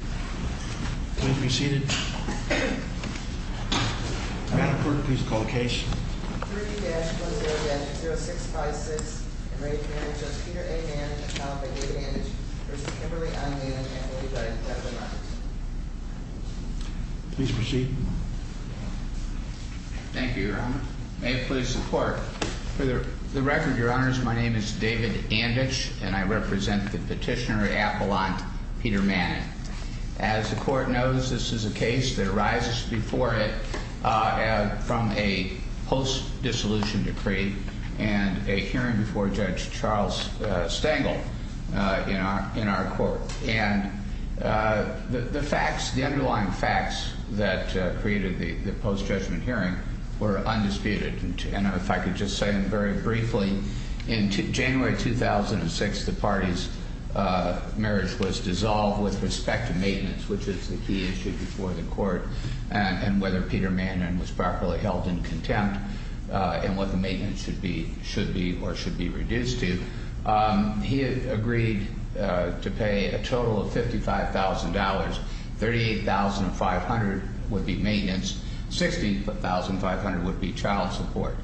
May it please the court, for the record, your honors, my name is David Anditch, and I represent the petitioner at Apollon, Peter Mannon. As the court knows, this is a case that arises before it from a post-dissolution decree and a hearing before Judge Charles Stangle in our court. And the facts, the underlying facts that created the post-judgment hearing were undisputed. And if I could just say very briefly, in January 2006, the party's marriage was dissolved with respect to maintenance, which is the key issue before the court. And whether Peter Mannon was properly held in contempt and what the maintenance should be or should be reduced to, he agreed to pay a total of $55,000. $38,500 would be maintenance, $60,500 would be child support.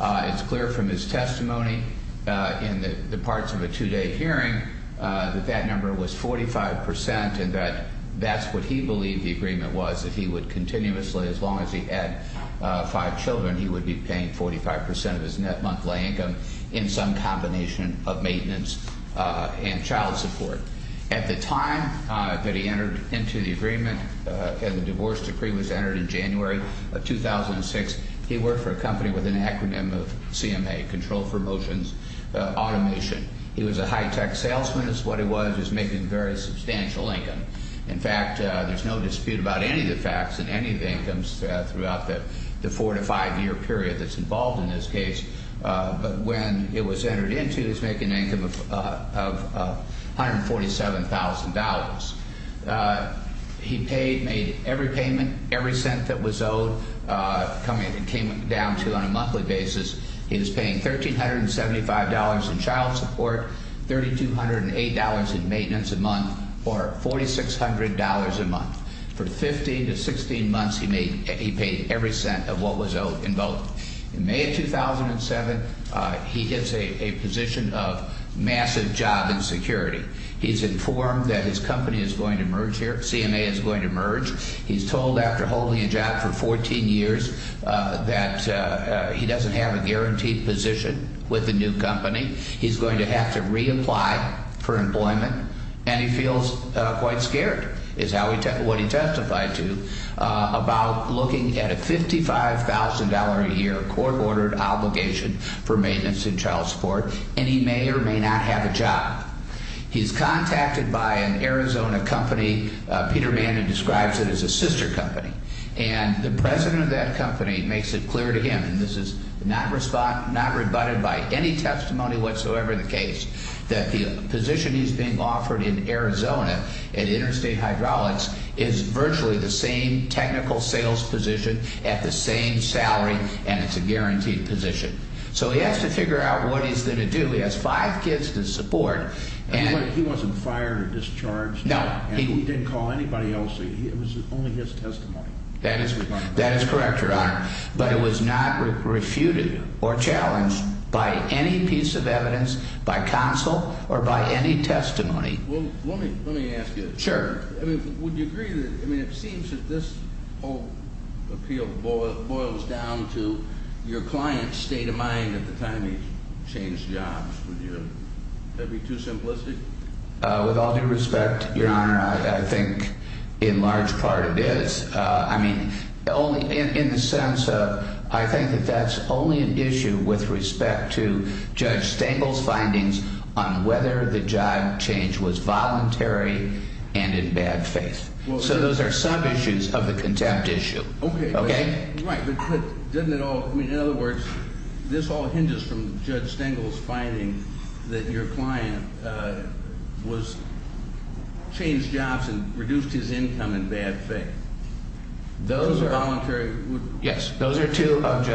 It's clear from his testimony in the parts of a two-day hearing that that number was 45%, and that that's what he believed the agreement was, that he would continuously, as long as he had five children, he would be paying 45% of his net monthly income in some combination of maintenance and child support. At the time that he entered into the agreement and the divorce decree was entered in January of 2006, he worked for a company with an acronym of CMA, Control for Motions Automation. He was a high-tech salesman is what it was. He was making very substantial income. In fact, there's no dispute about any of the facts in any of the incomes throughout the four- to five-year period that's involved in this case. But when it was entered into, he was making an income of $147,000. He paid, made every payment, every cent that was owed, came down to on a monthly basis. He was paying $1,375 in child support, $3,208 in maintenance a month, or $4,600 a month. For 15 to 16 months, he made – he paid every cent of what was owed in both. In May of 2007, he gets a position of massive job insecurity. He's informed that his company is going to merge here, CMA is going to merge. He's told after holding a job for 14 years that he doesn't have a guaranteed position with the new company. He's going to have to reapply for employment, and he feels quite scared is how he – what he testified to about looking at a $55,000-a-year court-ordered obligation for maintenance and child support, and he may or may not have a job. He's contacted by an Arizona company, Peterman, who describes it as a sister company, and the president of that company makes it clear to him – and this is not rebutted by any testimony whatsoever in the case – that the position he's being offered in Arizona at Interstate Hydraulics is virtually the same technical sales position at the same salary, and it's a guaranteed position. So he has to figure out what he's going to do. He has five kids to support, and – He wasn't fired or discharged. No. And he didn't call anybody else. It was only his testimony. That is correct, Your Honor. But it was not refuted or challenged by any piece of evidence, by counsel, or by any testimony. Well, let me ask you. Sure. I mean, would you agree that – I mean, it seems that this whole appeal boils down to your client's state of mind at the time he changed jobs. Would you – would that be too simplistic? With all due respect, Your Honor, I think in large part it is. I mean, only in the sense of – I think that that's only an issue with respect to Judge Stengel's findings on whether the job change was voluntary and in bad faith. So those are sub-issues of the contempt issue. Okay. Okay? Right. But doesn't it all – I mean, in other words, this all hinges from Judge Stengel's finding that your client was – changed jobs and reduced his income in bad faith. Those are voluntary – Yes. Those are two of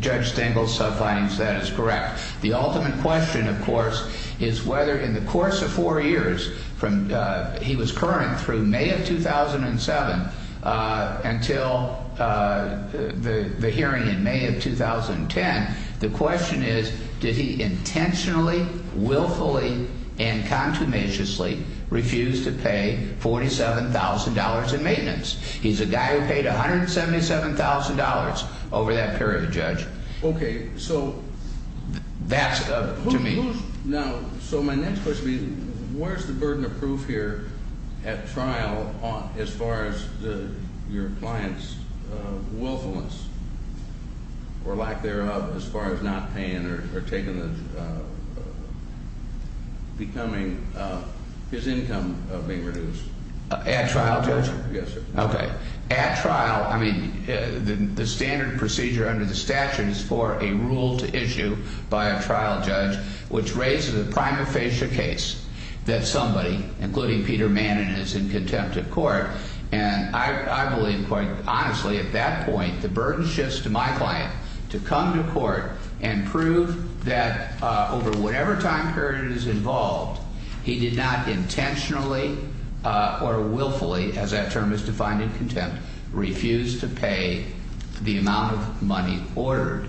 Judge Stengel's findings. That is correct. The ultimate question, of course, is whether in the course of four years from – he was current through May of 2007 until the hearing in May of 2010. The question is did he intentionally, willfully, and contumaciously refuse to pay $47,000 in maintenance? He's a guy who paid $177,000 over that period, Judge. Okay. So – That's up to me. Now, so my next question is where's the burden of proof here at trial as far as your client's willfulness or lack thereof as far as not paying or taking the – becoming – his income being reduced? At trial, Judge? Yes, sir. Okay. At trial – I mean, the standard procedure under the statute is for a rule to issue by a trial judge, which raises a prima facie case that somebody, including Peter Manin, is in contempt of court. And I believe, quite honestly, at that point, the burden shifts to my client to come to court and prove that over whatever time period is involved, he did not intentionally or willfully, as that term is defined in contempt, refuse to pay the amount of money ordered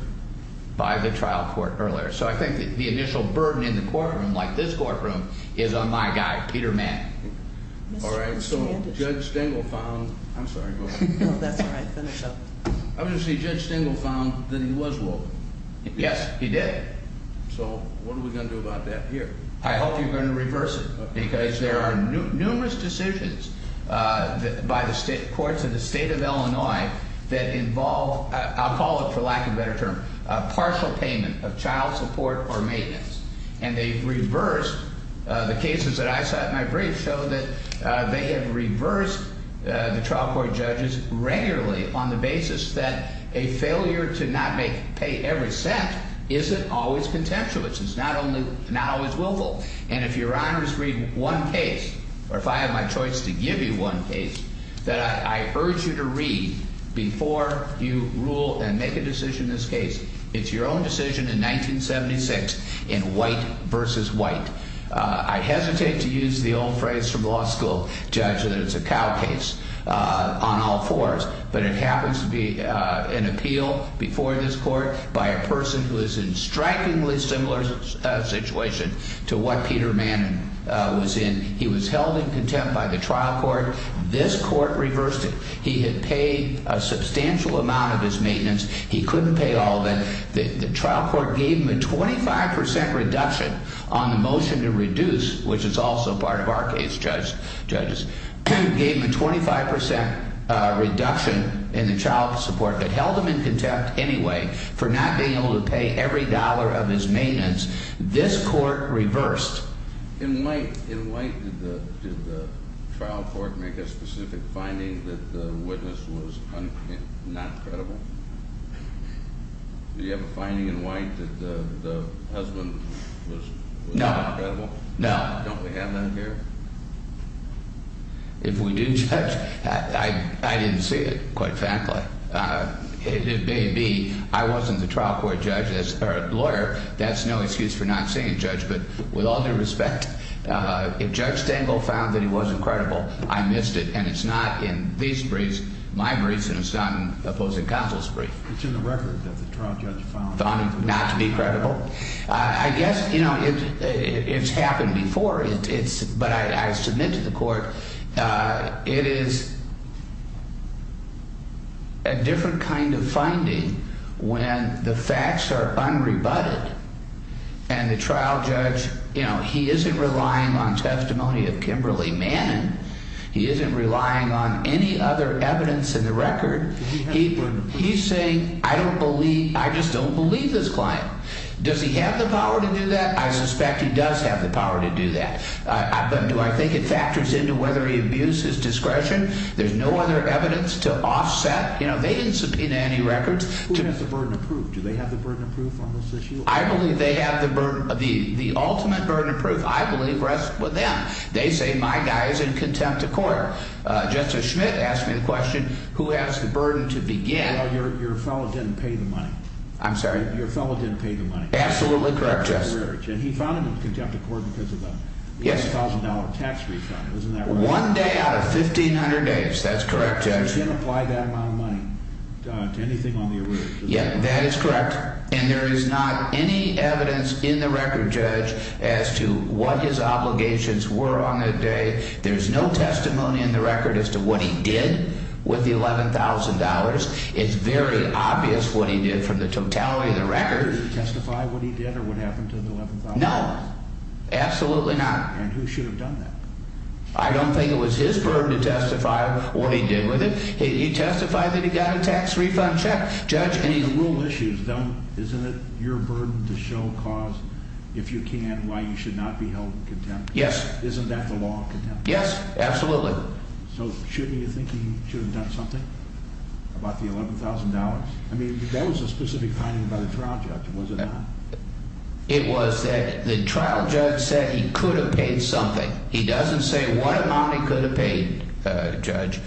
by the trial court earlier. So I think the initial burden in the courtroom, like this courtroom, is on my guy, Peter Manin. All right. So Judge Stengel found – I'm sorry, go ahead. No, that's all right. Finish up. Obviously, Judge Stengel found that he was wilful. Yes, he did. So what are we going to do about that here? I hope you're going to reverse it because there are numerous decisions by the courts of the state of Illinois that involve – I'll call it, for lack of a better term, partial payment of child support or maintenance. And they've reversed – the cases that I saw at my brief show that they have reversed the trial court judges regularly on the basis that a failure to not make – pay every cent isn't always contemptuous. It's not only – not always willful. And if Your Honors read one case, or if I have my choice to give you one case that I urge you to read before you rule and make a decision in this case, it's your own decision in 1976 in White v. White. I hesitate to use the old phrase from law school, Judge, that it's a cow case on all fours, but it happens to be an appeal before this court by a person who is in strikingly similar situation to what Peter Manin was in. He was held in contempt by the trial court. This court reversed it. He had paid a substantial amount of his maintenance. He couldn't pay all of it. The trial court gave him a 25 percent reduction on the motion to reduce, which is also part of our case, Judges, gave him a 25 percent reduction in the child support. They held him in contempt anyway for not being able to pay every dollar of his maintenance. This court reversed. In White, did the trial court make a specific finding that the witness was not credible? Do you have a finding in White that the husband was not credible? No. Don't we have that here? If we do, Judge, I didn't see it quite frankly. It may be I wasn't the trial court judge or lawyer. That's no excuse for not seeing a judge. But with all due respect, if Judge Stengel found that he wasn't credible, I missed it. And it's not in these briefs, my briefs, and it's not in opposing counsel's brief. It's in the record that the trial judge found not to be credible. I guess, you know, it's happened before, but I submit to the court. It is a different kind of finding when the facts are unrebutted and the trial judge, you know, he isn't relying on testimony of Kimberly Manning. He isn't relying on any other evidence in the record. He's saying, I don't believe I just don't believe this client. Does he have the power to do that? I suspect he does have the power to do that. But do I think it factors into whether he abused his discretion? There's no other evidence to offset. You know, they didn't subpoena any records. Who has the burden of proof? Do they have the burden of proof on this issue? I believe they have the ultimate burden of proof. I believe rests with them. They say my guy is in contempt of court. Justice Schmidt asked me the question, who has the burden to begin? Your fellow didn't pay the money. I'm sorry? Your fellow didn't pay the money. Absolutely correct, Justice. And he found him in contempt of court because of that. The $11,000 tax refund, isn't that right? One day out of 1,500 days. That's correct, Judge. He didn't apply that amount of money to anything on the arrears. Yeah, that is correct. And there is not any evidence in the record, Judge, as to what his obligations were on that day. There's no testimony in the record as to what he did with the $11,000. It's very obvious what he did from the totality of the record. Did he testify what he did or what happened to the $11,000? No, absolutely not. And who should have done that? I don't think it was his burden to testify what he did with it. He testified that he got a tax refund check, Judge. The real issue is, isn't it your burden to show cause, if you can, why you should not be held in contempt? Yes. Isn't that the law of contempt? Yes, absolutely. So shouldn't you think he should have done something about the $11,000? I mean, that was a specific finding by the trial judge, was it not? It was that the trial judge said he could have paid something. He doesn't say what amount he could have paid, Judge,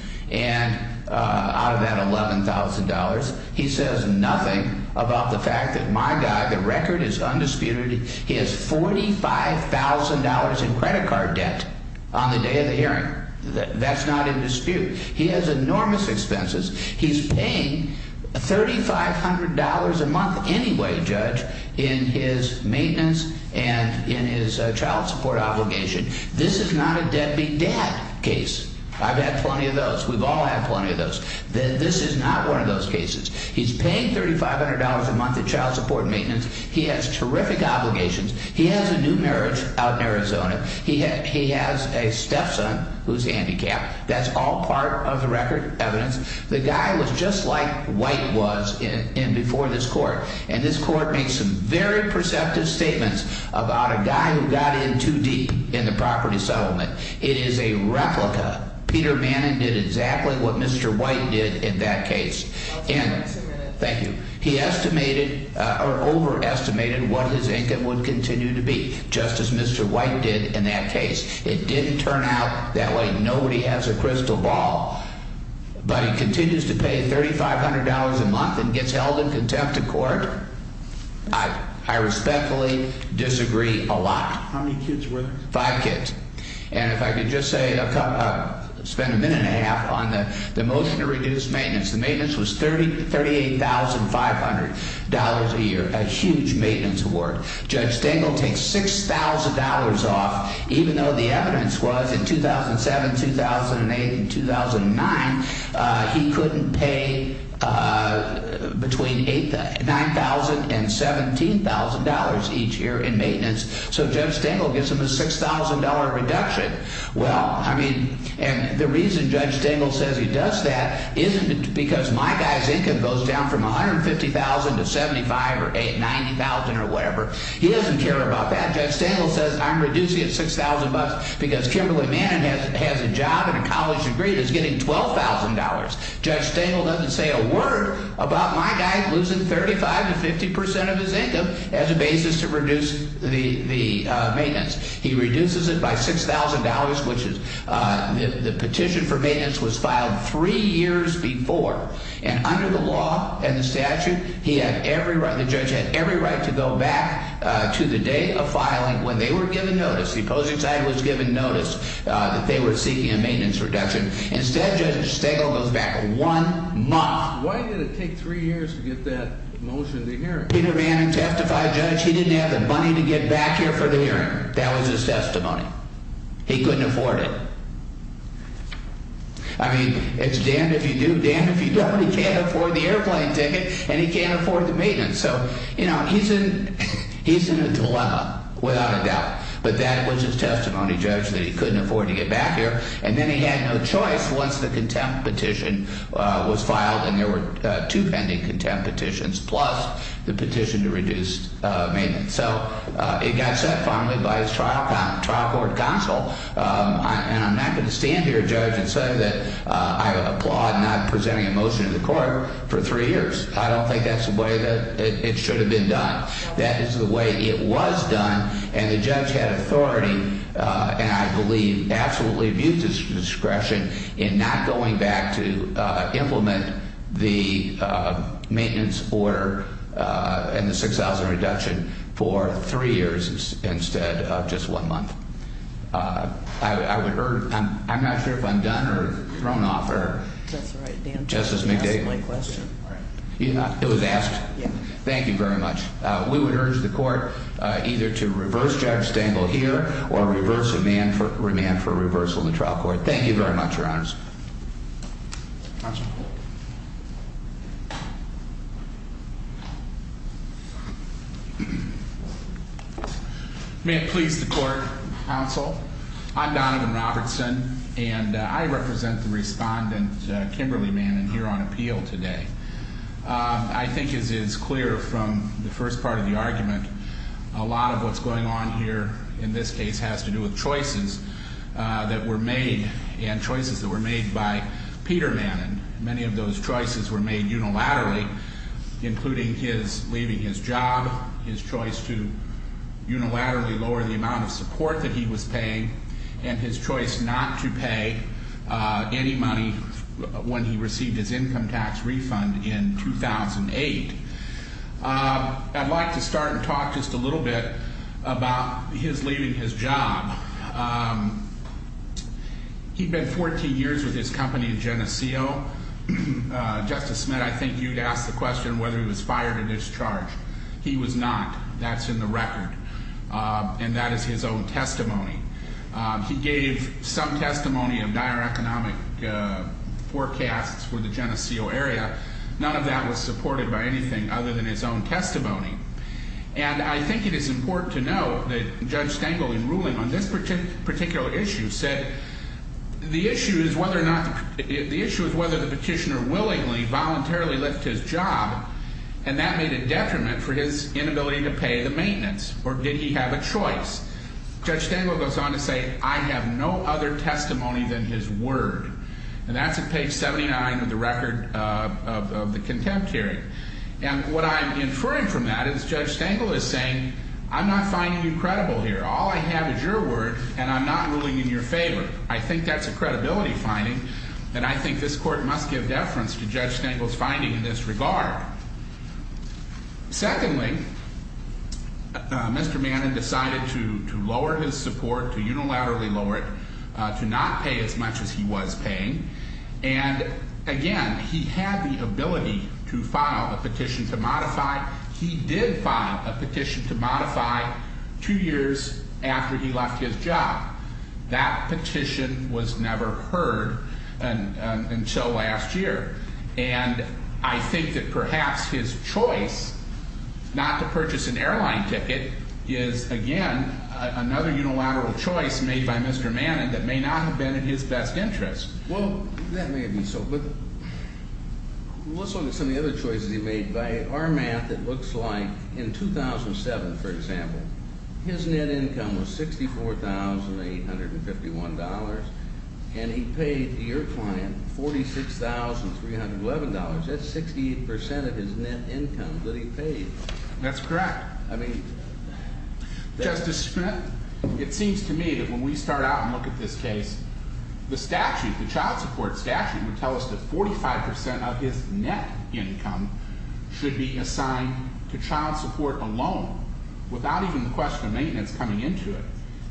out of that $11,000. He says nothing about the fact that my guy, the record is undisputed. He has $45,000 in credit card debt on the day of the hearing. That's not in dispute. He has enormous expenses. He's paying $3,500 a month anyway, Judge, in his maintenance and in his child support obligation. This is not a deadbeat dad case. I've had plenty of those. We've all had plenty of those. This is not one of those cases. He's paying $3,500 a month in child support and maintenance. He has terrific obligations. He has a new marriage out in Arizona. He has a stepson who's handicapped. That's all part of the record evidence. The guy was just like White was before this court. And this court makes some very perceptive statements about a guy who got in too deep in the property settlement. It is a replica. Peter Manning did exactly what Mr. White did in that case. Thank you. He estimated or overestimated what his income would continue to be, just as Mr. White did in that case. It didn't turn out that way. Nobody has a crystal ball. But he continues to pay $3,500 a month and gets held in contempt of court. I respectfully disagree a lot. How many kids were there? Five kids. And if I could just spend a minute and a half on the motion to reduce maintenance. The maintenance was $38,500 a year, a huge maintenance award. Judge Dingell takes $6,000 off, even though the evidence was in 2007, 2008, and 2009, he couldn't pay between $9,000 and $17,000 each year in maintenance. So Judge Dingell gives him a $6,000 reduction. Well, I mean, and the reason Judge Dingell says he does that isn't because my guy's income goes down from $150,000 to $75,000 or $90,000 or whatever. He doesn't care about that. Judge Dingell says I'm reducing it $6,000 because Kimberly Manning has a job and a college degree and is getting $12,000. Judge Dingell doesn't say a word about my guy losing 35% to 50% of his income as a basis to reduce the maintenance. He reduces it by $6,000, which is the petition for maintenance was filed three years before. And under the law and the statute, he had every right, the judge had every right to go back to the day of filing when they were given notice. The opposing side was given notice that they were seeking a maintenance reduction. Instead, Judge Dingell goes back one month. Why did it take three years to get that motion to hearing? Peter Manning testified, Judge, he didn't have the money to get back here for the hearing. That was his testimony. He couldn't afford it. I mean, it's damned if you do, damned if you don't. He can't afford the airplane ticket and he can't afford the maintenance. So, you know, he's in a dilemma without a doubt. But that was his testimony, Judge, that he couldn't afford to get back here. And then he had no choice once the contempt petition was filed. And there were two pending contempt petitions, plus the petition to reduce maintenance. So it got set finally by his trial court counsel. And I'm not going to stand here, Judge, and say that I applaud not presenting a motion to the court for three years. I don't think that's the way that it should have been done. That is the way it was done. And the judge had authority, and I believe absolutely abused his discretion, in not going back to implement the maintenance order and the $6,000 reduction for three years instead of just one month. I would urge, I'm not sure if I'm done or thrown off or. That's all right, Dan. Justice McDade. You asked my question. It was asked. Thank you very much. We would urge the court either to reverse Judge Stengel here or reverse remand for reversal in the trial court. Thank you very much, Your Honors. May it please the court, counsel. I'm Donovan Robertson, and I represent the respondent, Kimberly Manning, here on appeal today. I think as is clear from the first part of the argument, a lot of what's going on here in this case has to do with choices that were made and choices that were made by Peter Manning. And many of those choices were made unilaterally, including his leaving his job, his choice to unilaterally lower the amount of support that he was paying, and his choice not to pay any money when he received his income tax refund in 2008. I'd like to start and talk just a little bit about his leaving his job. He'd been 14 years with his company in Geneseo. Justice Smith, I think you'd ask the question whether he was fired or discharged. He was not. That's in the record. And that is his own testimony. He gave some testimony of dire economic forecasts for the Geneseo area. None of that was supported by anything other than his own testimony. And I think it is important to note that Judge Stengel, in ruling on this particular issue, said the issue is whether or not the petitioner willingly, voluntarily left his job, and that made a detriment for his inability to pay the maintenance. Or did he have a choice? Judge Stengel goes on to say, I have no other testimony than his word. And that's at page 79 of the record of the contempt hearing. And what I'm inferring from that is Judge Stengel is saying, I'm not finding you credible here. All I have is your word, and I'm not ruling in your favor. I think that's a credibility finding. And I think this court must give deference to Judge Stengel's finding in this regard. Secondly, Mr. Manning decided to lower his support, to unilaterally lower it, to not pay as much as he was paying. And, again, he had the ability to file a petition to modify. He did file a petition to modify two years after he left his job. That petition was never heard until last year. And I think that perhaps his choice not to purchase an airline ticket is, again, another unilateral choice made by Mr. Manning that may not have been in his best interest. Well, that may be so. But let's look at some of the other choices he made. By our math, it looks like in 2007, for example, his net income was $64,851, and he paid your client $46,311. That's 68% of his net income that he paid. That's correct. I mean, Justice Schmidt, it seems to me that when we start out and look at this case, the statute, the child support statute, would tell us that 45% of his net income should be assigned to child support alone without even the question of maintenance coming into it.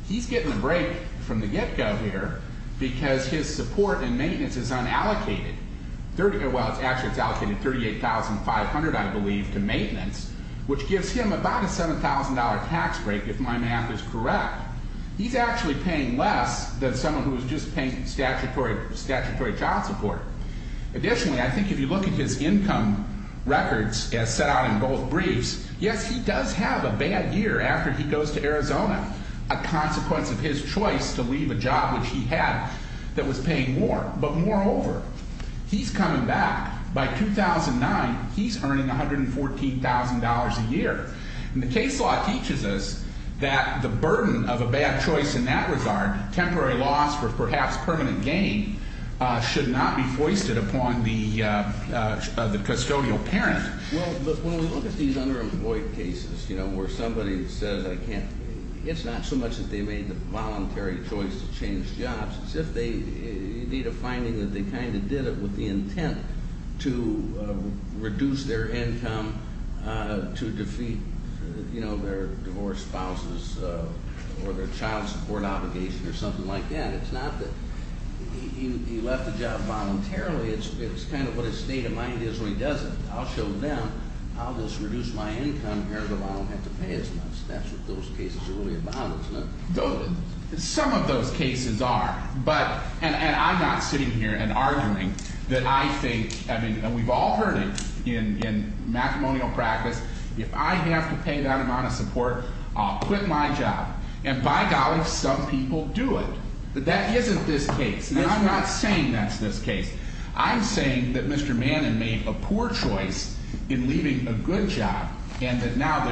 He's getting a break from the get-go here because his support and maintenance is unallocated. Well, actually, it's allocated $38,500, I believe, to maintenance, which gives him about a $7,000 tax break, if my math is correct. He's actually paying less than someone who is just paying statutory child support. Additionally, I think if you look at his income records as set out in both briefs, yes, he does have a bad year after he goes to Arizona, a consequence of his choice to leave a job which he had that was paying more. But moreover, he's coming back. By 2009, he's earning $114,000 a year. And the case law teaches us that the burden of a bad choice in that regard, temporary loss or perhaps permanent gain, should not be foisted upon the custodial parent. Well, but when we look at these underemployed cases where somebody says I can't, it's not so much that they made the voluntary choice to change jobs. It's if they need a finding that they kind of did it with the intent to reduce their income, to defeat their divorced spouses or their child support obligation or something like that. It's not that he left the job voluntarily. It's kind of what his state of mind is where he does it. I'll show them, I'll just reduce my income here because I don't have to pay as much. That's what those cases are really about. It's not doted. Some of those cases are. But, and I'm not sitting here and arguing that I think, I mean, we've all heard it in matrimonial practice. If I have to pay that amount of support, I'll quit my job. And by golly, some people do it. But that isn't this case. And I'm not saying that's this case. I'm saying that Mr. Manin made a poor choice in leaving a good job and that now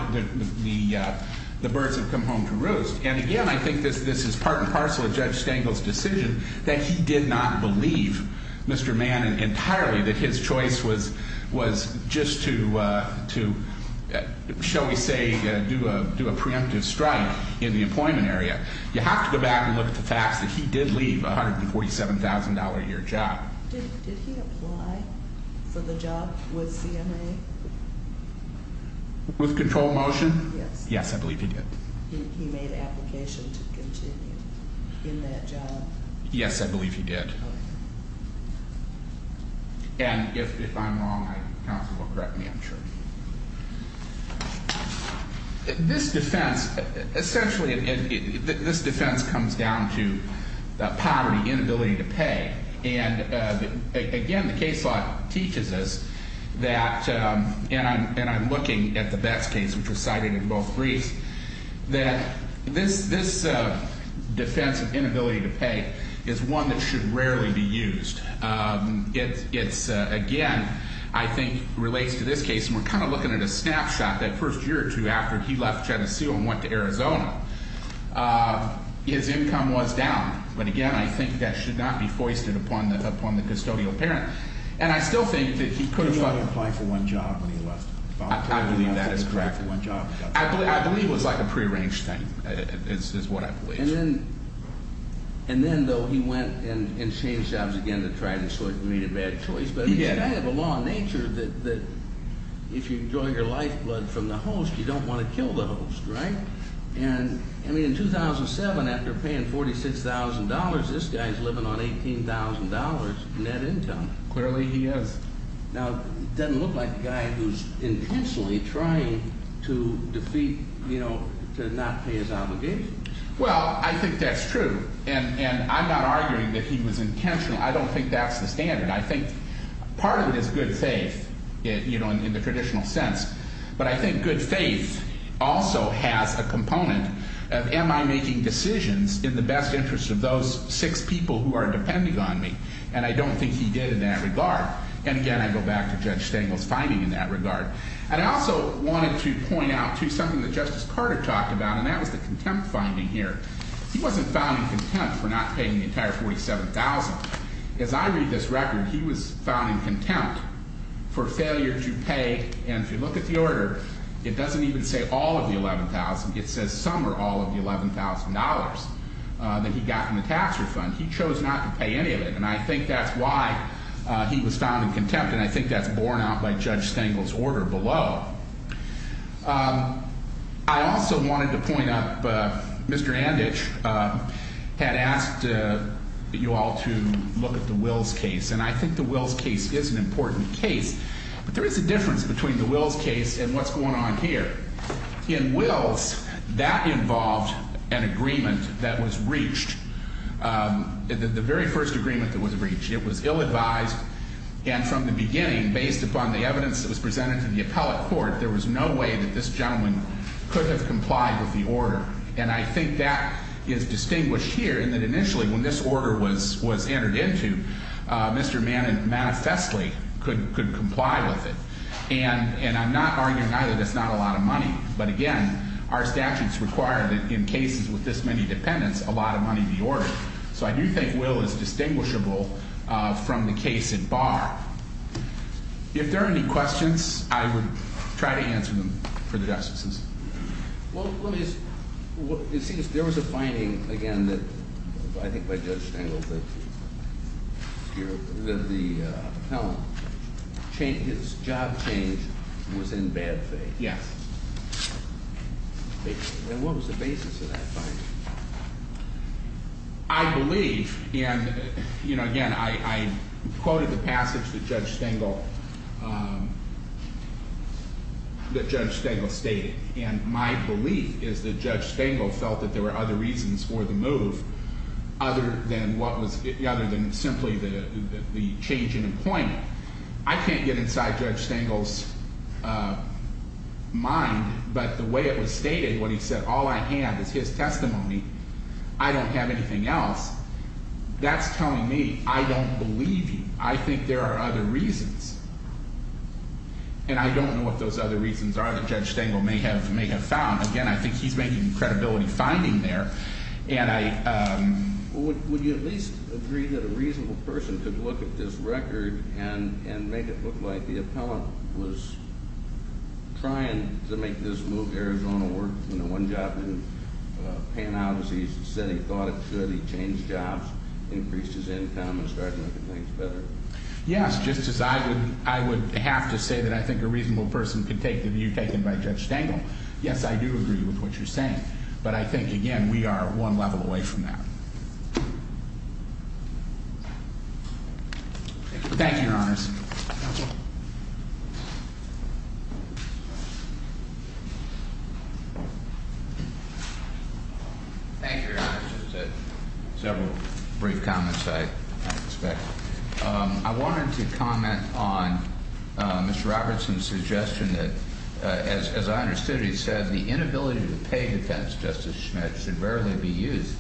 the birds have come home to roost. And again, I think this is part and parcel of Judge Stengel's decision that he did not believe Mr. Manin entirely, that his choice was just to, shall we say, do a preemptive strike in the employment area. You have to go back and look at the facts that he did leave a $147,000 a year job. Did he apply for the job with CMA? With Control Motion? Yes. Yes, I believe he did. He made an application to continue in that job? Yes, I believe he did. And if I'm wrong, counsel will correct me, I'm sure. This defense, essentially this defense comes down to poverty, inability to pay. And again, the case law teaches us that, and I'm looking at the Betts case, which was cited in both briefs, that this defense of inability to pay is one that should rarely be used. It's, again, I think relates to this case, and we're kind of looking at a snapshot, that first year or two after he left Geneseo and went to Arizona, his income was down. But again, I think that should not be foisted upon the custodial parent. And I still think that he could have applied for one job when he left. I believe that is correct. I believe it was like a prearranged thing, is what I believe. And then, though, he went and changed jobs again to try to sort of meet a bad choice. But it's kind of a law of nature that if you enjoy your lifeblood from the host, you don't want to kill the host, right? And, I mean, in 2007, after paying $46,000, this guy's living on $18,000 net income. Clearly he is. Now, it doesn't look like a guy who's intentionally trying to defeat, you know, to not pay his obligations. Well, I think that's true. And I'm not arguing that he was intentional. I don't think that's the standard. I think part of it is good faith, you know, in the traditional sense. But I think good faith also has a component of am I making decisions in the best interest of those six people who are depending on me? And I don't think he did in that regard. And, again, I go back to Judge Stengel's finding in that regard. And I also wanted to point out, too, something that Justice Carter talked about, and that was the contempt finding here. He wasn't found in contempt for not paying the entire $47,000. As I read this record, he was found in contempt for failure to pay. And if you look at the order, it doesn't even say all of the $11,000. It says some or all of the $11,000 that he got from the tax refund. He chose not to pay any of it. And I think that's why he was found in contempt. And I think that's borne out by Judge Stengel's order below. I also wanted to point out Mr. Anditch had asked you all to look at the Wills case. And I think the Wills case is an important case. But there is a difference between the Wills case and what's going on here. In Wills, that involved an agreement that was reached, the very first agreement that was reached. It was ill-advised. And from the beginning, based upon the evidence that was presented to the appellate court, there was no way that this gentleman could have complied with the order. And I think that is distinguished here in that initially when this order was entered into, Mr. Manifestly could comply with it. And I'm not arguing either that's not a lot of money. But, again, our statutes require that in cases with this many dependents, a lot of money be ordered. So I do think Wills is distinguishable from the case at bar. If there are any questions, I would try to answer them for the justices. Well, let me ask, it seems there was a finding, again, that I think by Judge Stengel, that the appellant's job change was in bad faith. Yes. And what was the basis of that finding? I believe, and again, I quoted the passage that Judge Stengel stated, and my belief is that Judge Stengel felt that there were other reasons for the move other than simply the change in appointment. I can't get inside Judge Stengel's mind, but the way it was stated when he said, All I have is his testimony. I don't have anything else. That's telling me I don't believe you. I think there are other reasons. And I don't know what those other reasons are that Judge Stengel may have found. Again, I think he's making credibility finding there. And I – Would you at least agree that a reasonable person could look at this record and make it look like the appellant was trying to make this move, Arizona Ward, one job didn't pan out as he said he thought it should. He changed jobs, increased his income, and started making things better. Yes, just as I would have to say that I think a reasonable person could take the view taken by Judge Stengel. Yes, I do agree with what you're saying. But I think, again, we are one level away from that. Thank you, Your Honors. Counsel. Thank you, Your Honors. Just several brief comments I expect. I wanted to comment on Mr. Robertson's suggestion that, as I understood it, he said, the inability to pay defense, Justice Schmidt, should rarely be used.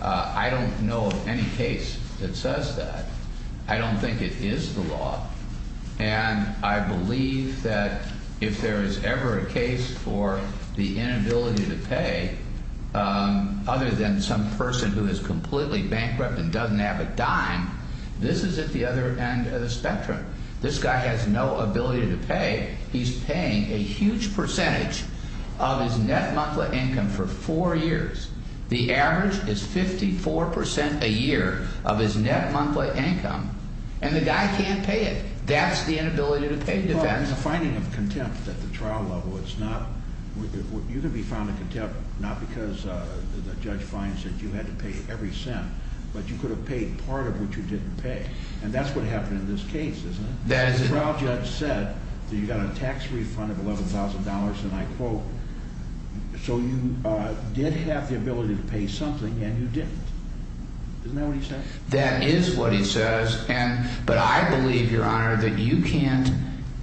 I don't know of any case that says that. I don't think it is the law. And I believe that if there is ever a case for the inability to pay, other than some person who is completely bankrupt and doesn't have a dime, this is at the other end of the spectrum. This guy has no ability to pay. He's paying a huge percentage of his net monthly income for four years. The average is 54% a year of his net monthly income. And the guy can't pay it. That's the inability to pay defense. Well, in the finding of contempt at the trial level, you can be found in contempt not because the judge finds that you had to pay every cent, but you could have paid part of what you didn't pay. And that's what happened in this case, isn't it? The trial judge said that you got a tax refund of $11,000, and I quote, so you did have the ability to pay something, and you didn't. Isn't that what he said? That is what he says. But I believe, Your Honor, that you can't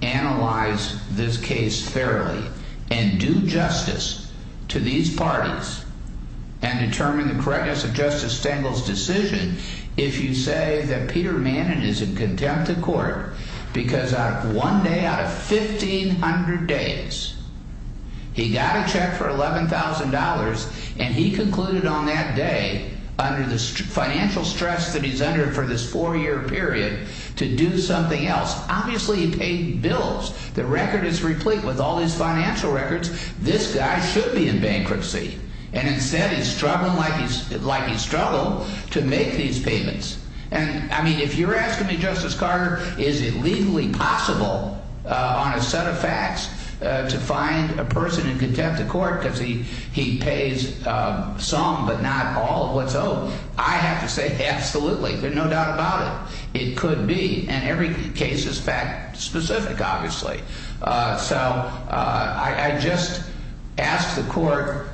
analyze this case fairly and do justice to these parties and determine the correctness of Justice Stengel's decision if you say that Peter Manin is in contempt of court because one day out of 1,500 days, he got a check for $11,000, and he concluded on that day, under the financial stress that he's under for this four-year period, to do something else. Obviously, he paid bills. The record is replete with all these financial records. This guy should be in bankruptcy. And instead, he's struggling like he struggled to make these payments. And, I mean, if you're asking me, Justice Carter, is it legally possible on a set of facts to find a person in contempt of court because he pays some but not all of what's owed, I have to say absolutely, there's no doubt about it. It could be, and every case is fact-specific, obviously. So I just ask the court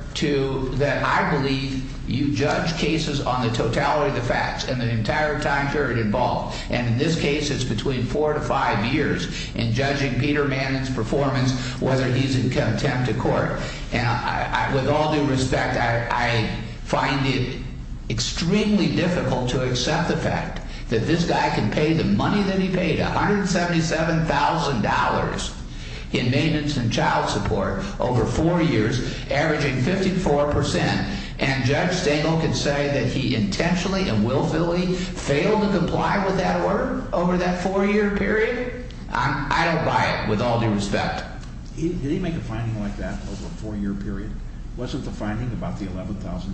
that I believe you judge cases on the totality of the facts and the entire time period involved. And in this case, it's between four to five years in judging Peter Manin's performance, whether he's in contempt of court. And with all due respect, I find it extremely difficult to accept the fact that this guy can pay the money that he paid, $177,000, in maintenance and child support over four years, averaging 54%. And Judge Stengel can say that he intentionally and willfully failed to comply with that order over that four-year period? I don't buy it, with all due respect. Did he make a finding like that over a four-year period? Wasn't the finding about the $11,000?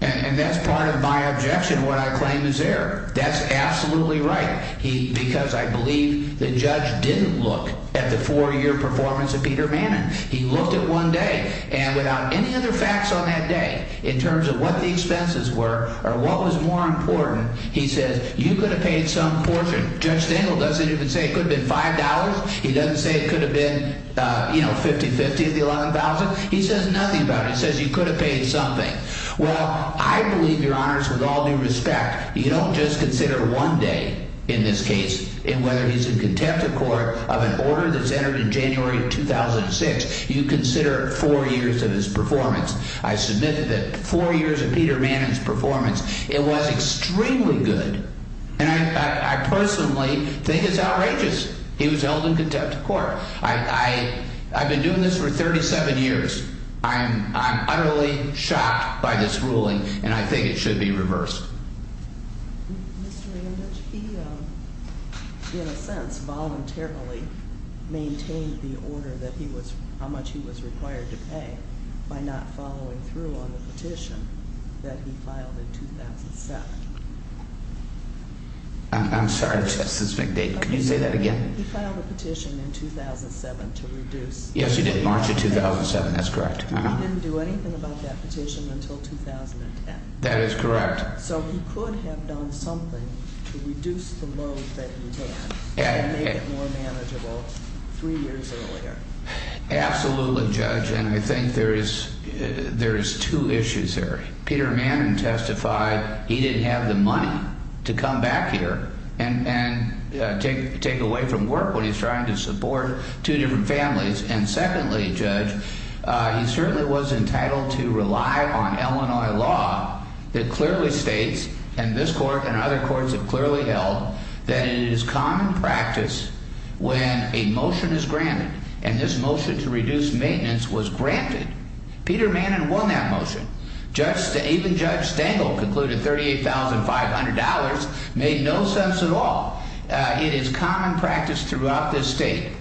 And that's part of my objection, what I claim is there. That's absolutely right. Because I believe the judge didn't look at the four-year performance of Peter Manin. He looked at one day, and without any other facts on that day, in terms of what the expenses were or what was more important, he says, you could have paid some portion. Judge Stengel doesn't even say it could have been $5. He doesn't say it could have been 50-50 at the $11,000. He says nothing about it. He says you could have paid something. Well, I believe, Your Honors, with all due respect, you don't just consider one day in this case, in whether he's in contempt of court of an order that's entered in January of 2006, you consider four years of his performance. I submit that four years of Peter Manin's performance, it was extremely good. And I personally think it's outrageous he was held in contempt of court. I've been doing this for 37 years. I'm utterly shocked by this ruling, and I think it should be reversed. Mr. Randage, he, in a sense, voluntarily maintained the order that he was how much he was required to pay by not following through on the petition that he filed in 2007. I'm sorry, Justice McDade. Could you say that again? He filed a petition in 2007 to reduce Yes, he did, March of 2007. That's correct. He didn't do anything about that petition until 2010. That is correct. So he could have done something to reduce the load that he had and made it more manageable three years earlier. Absolutely, Judge, and I think there is two issues there. Peter Manin testified he didn't have the money to come back here and take away from work when he's trying to support two different families. And secondly, Judge, he certainly was entitled to rely on Illinois law that clearly states and this court and other courts have clearly held that it is common practice when a motion is granted and this motion to reduce maintenance was granted. Peter Manin won that motion. Even Judge Stengel concluded $38,500 made no sense at all. It is common practice throughout this state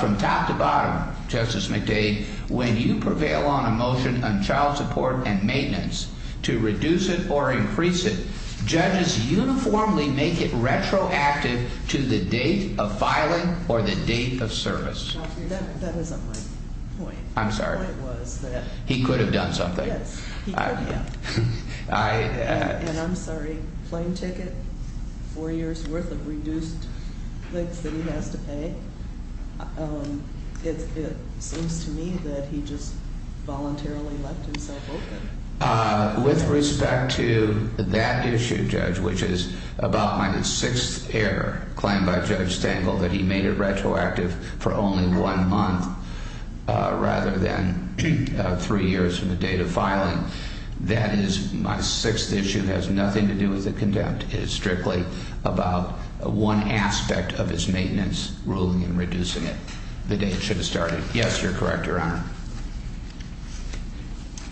from top to bottom, Justice McDade, when you prevail on a motion on child support and maintenance to reduce it or increase it, judges uniformly make it retroactive to the date of filing or the date of service. That isn't my point. I'm sorry. My point was that He could have done something. Yes, he could have. And I'm sorry, plane ticket, four years' worth of reduced things that he has to pay. It seems to me that he just voluntarily left himself open. With respect to that issue, Judge, which is about my sixth error claimed by Judge Stengel that he made it retroactive for only one month rather than three years from the date of filing, that is my sixth issue. It has nothing to do with the contempt. It is strictly about one aspect of his maintenance ruling in reducing it the day it should have started. Yes, you're correct, Your Honor.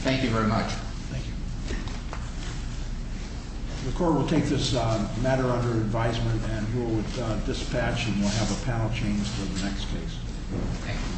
Thank you very much. Thank you. The Court will take this matter under advisement and rule with dispatch and we'll have a panel change for the next case. Thank you.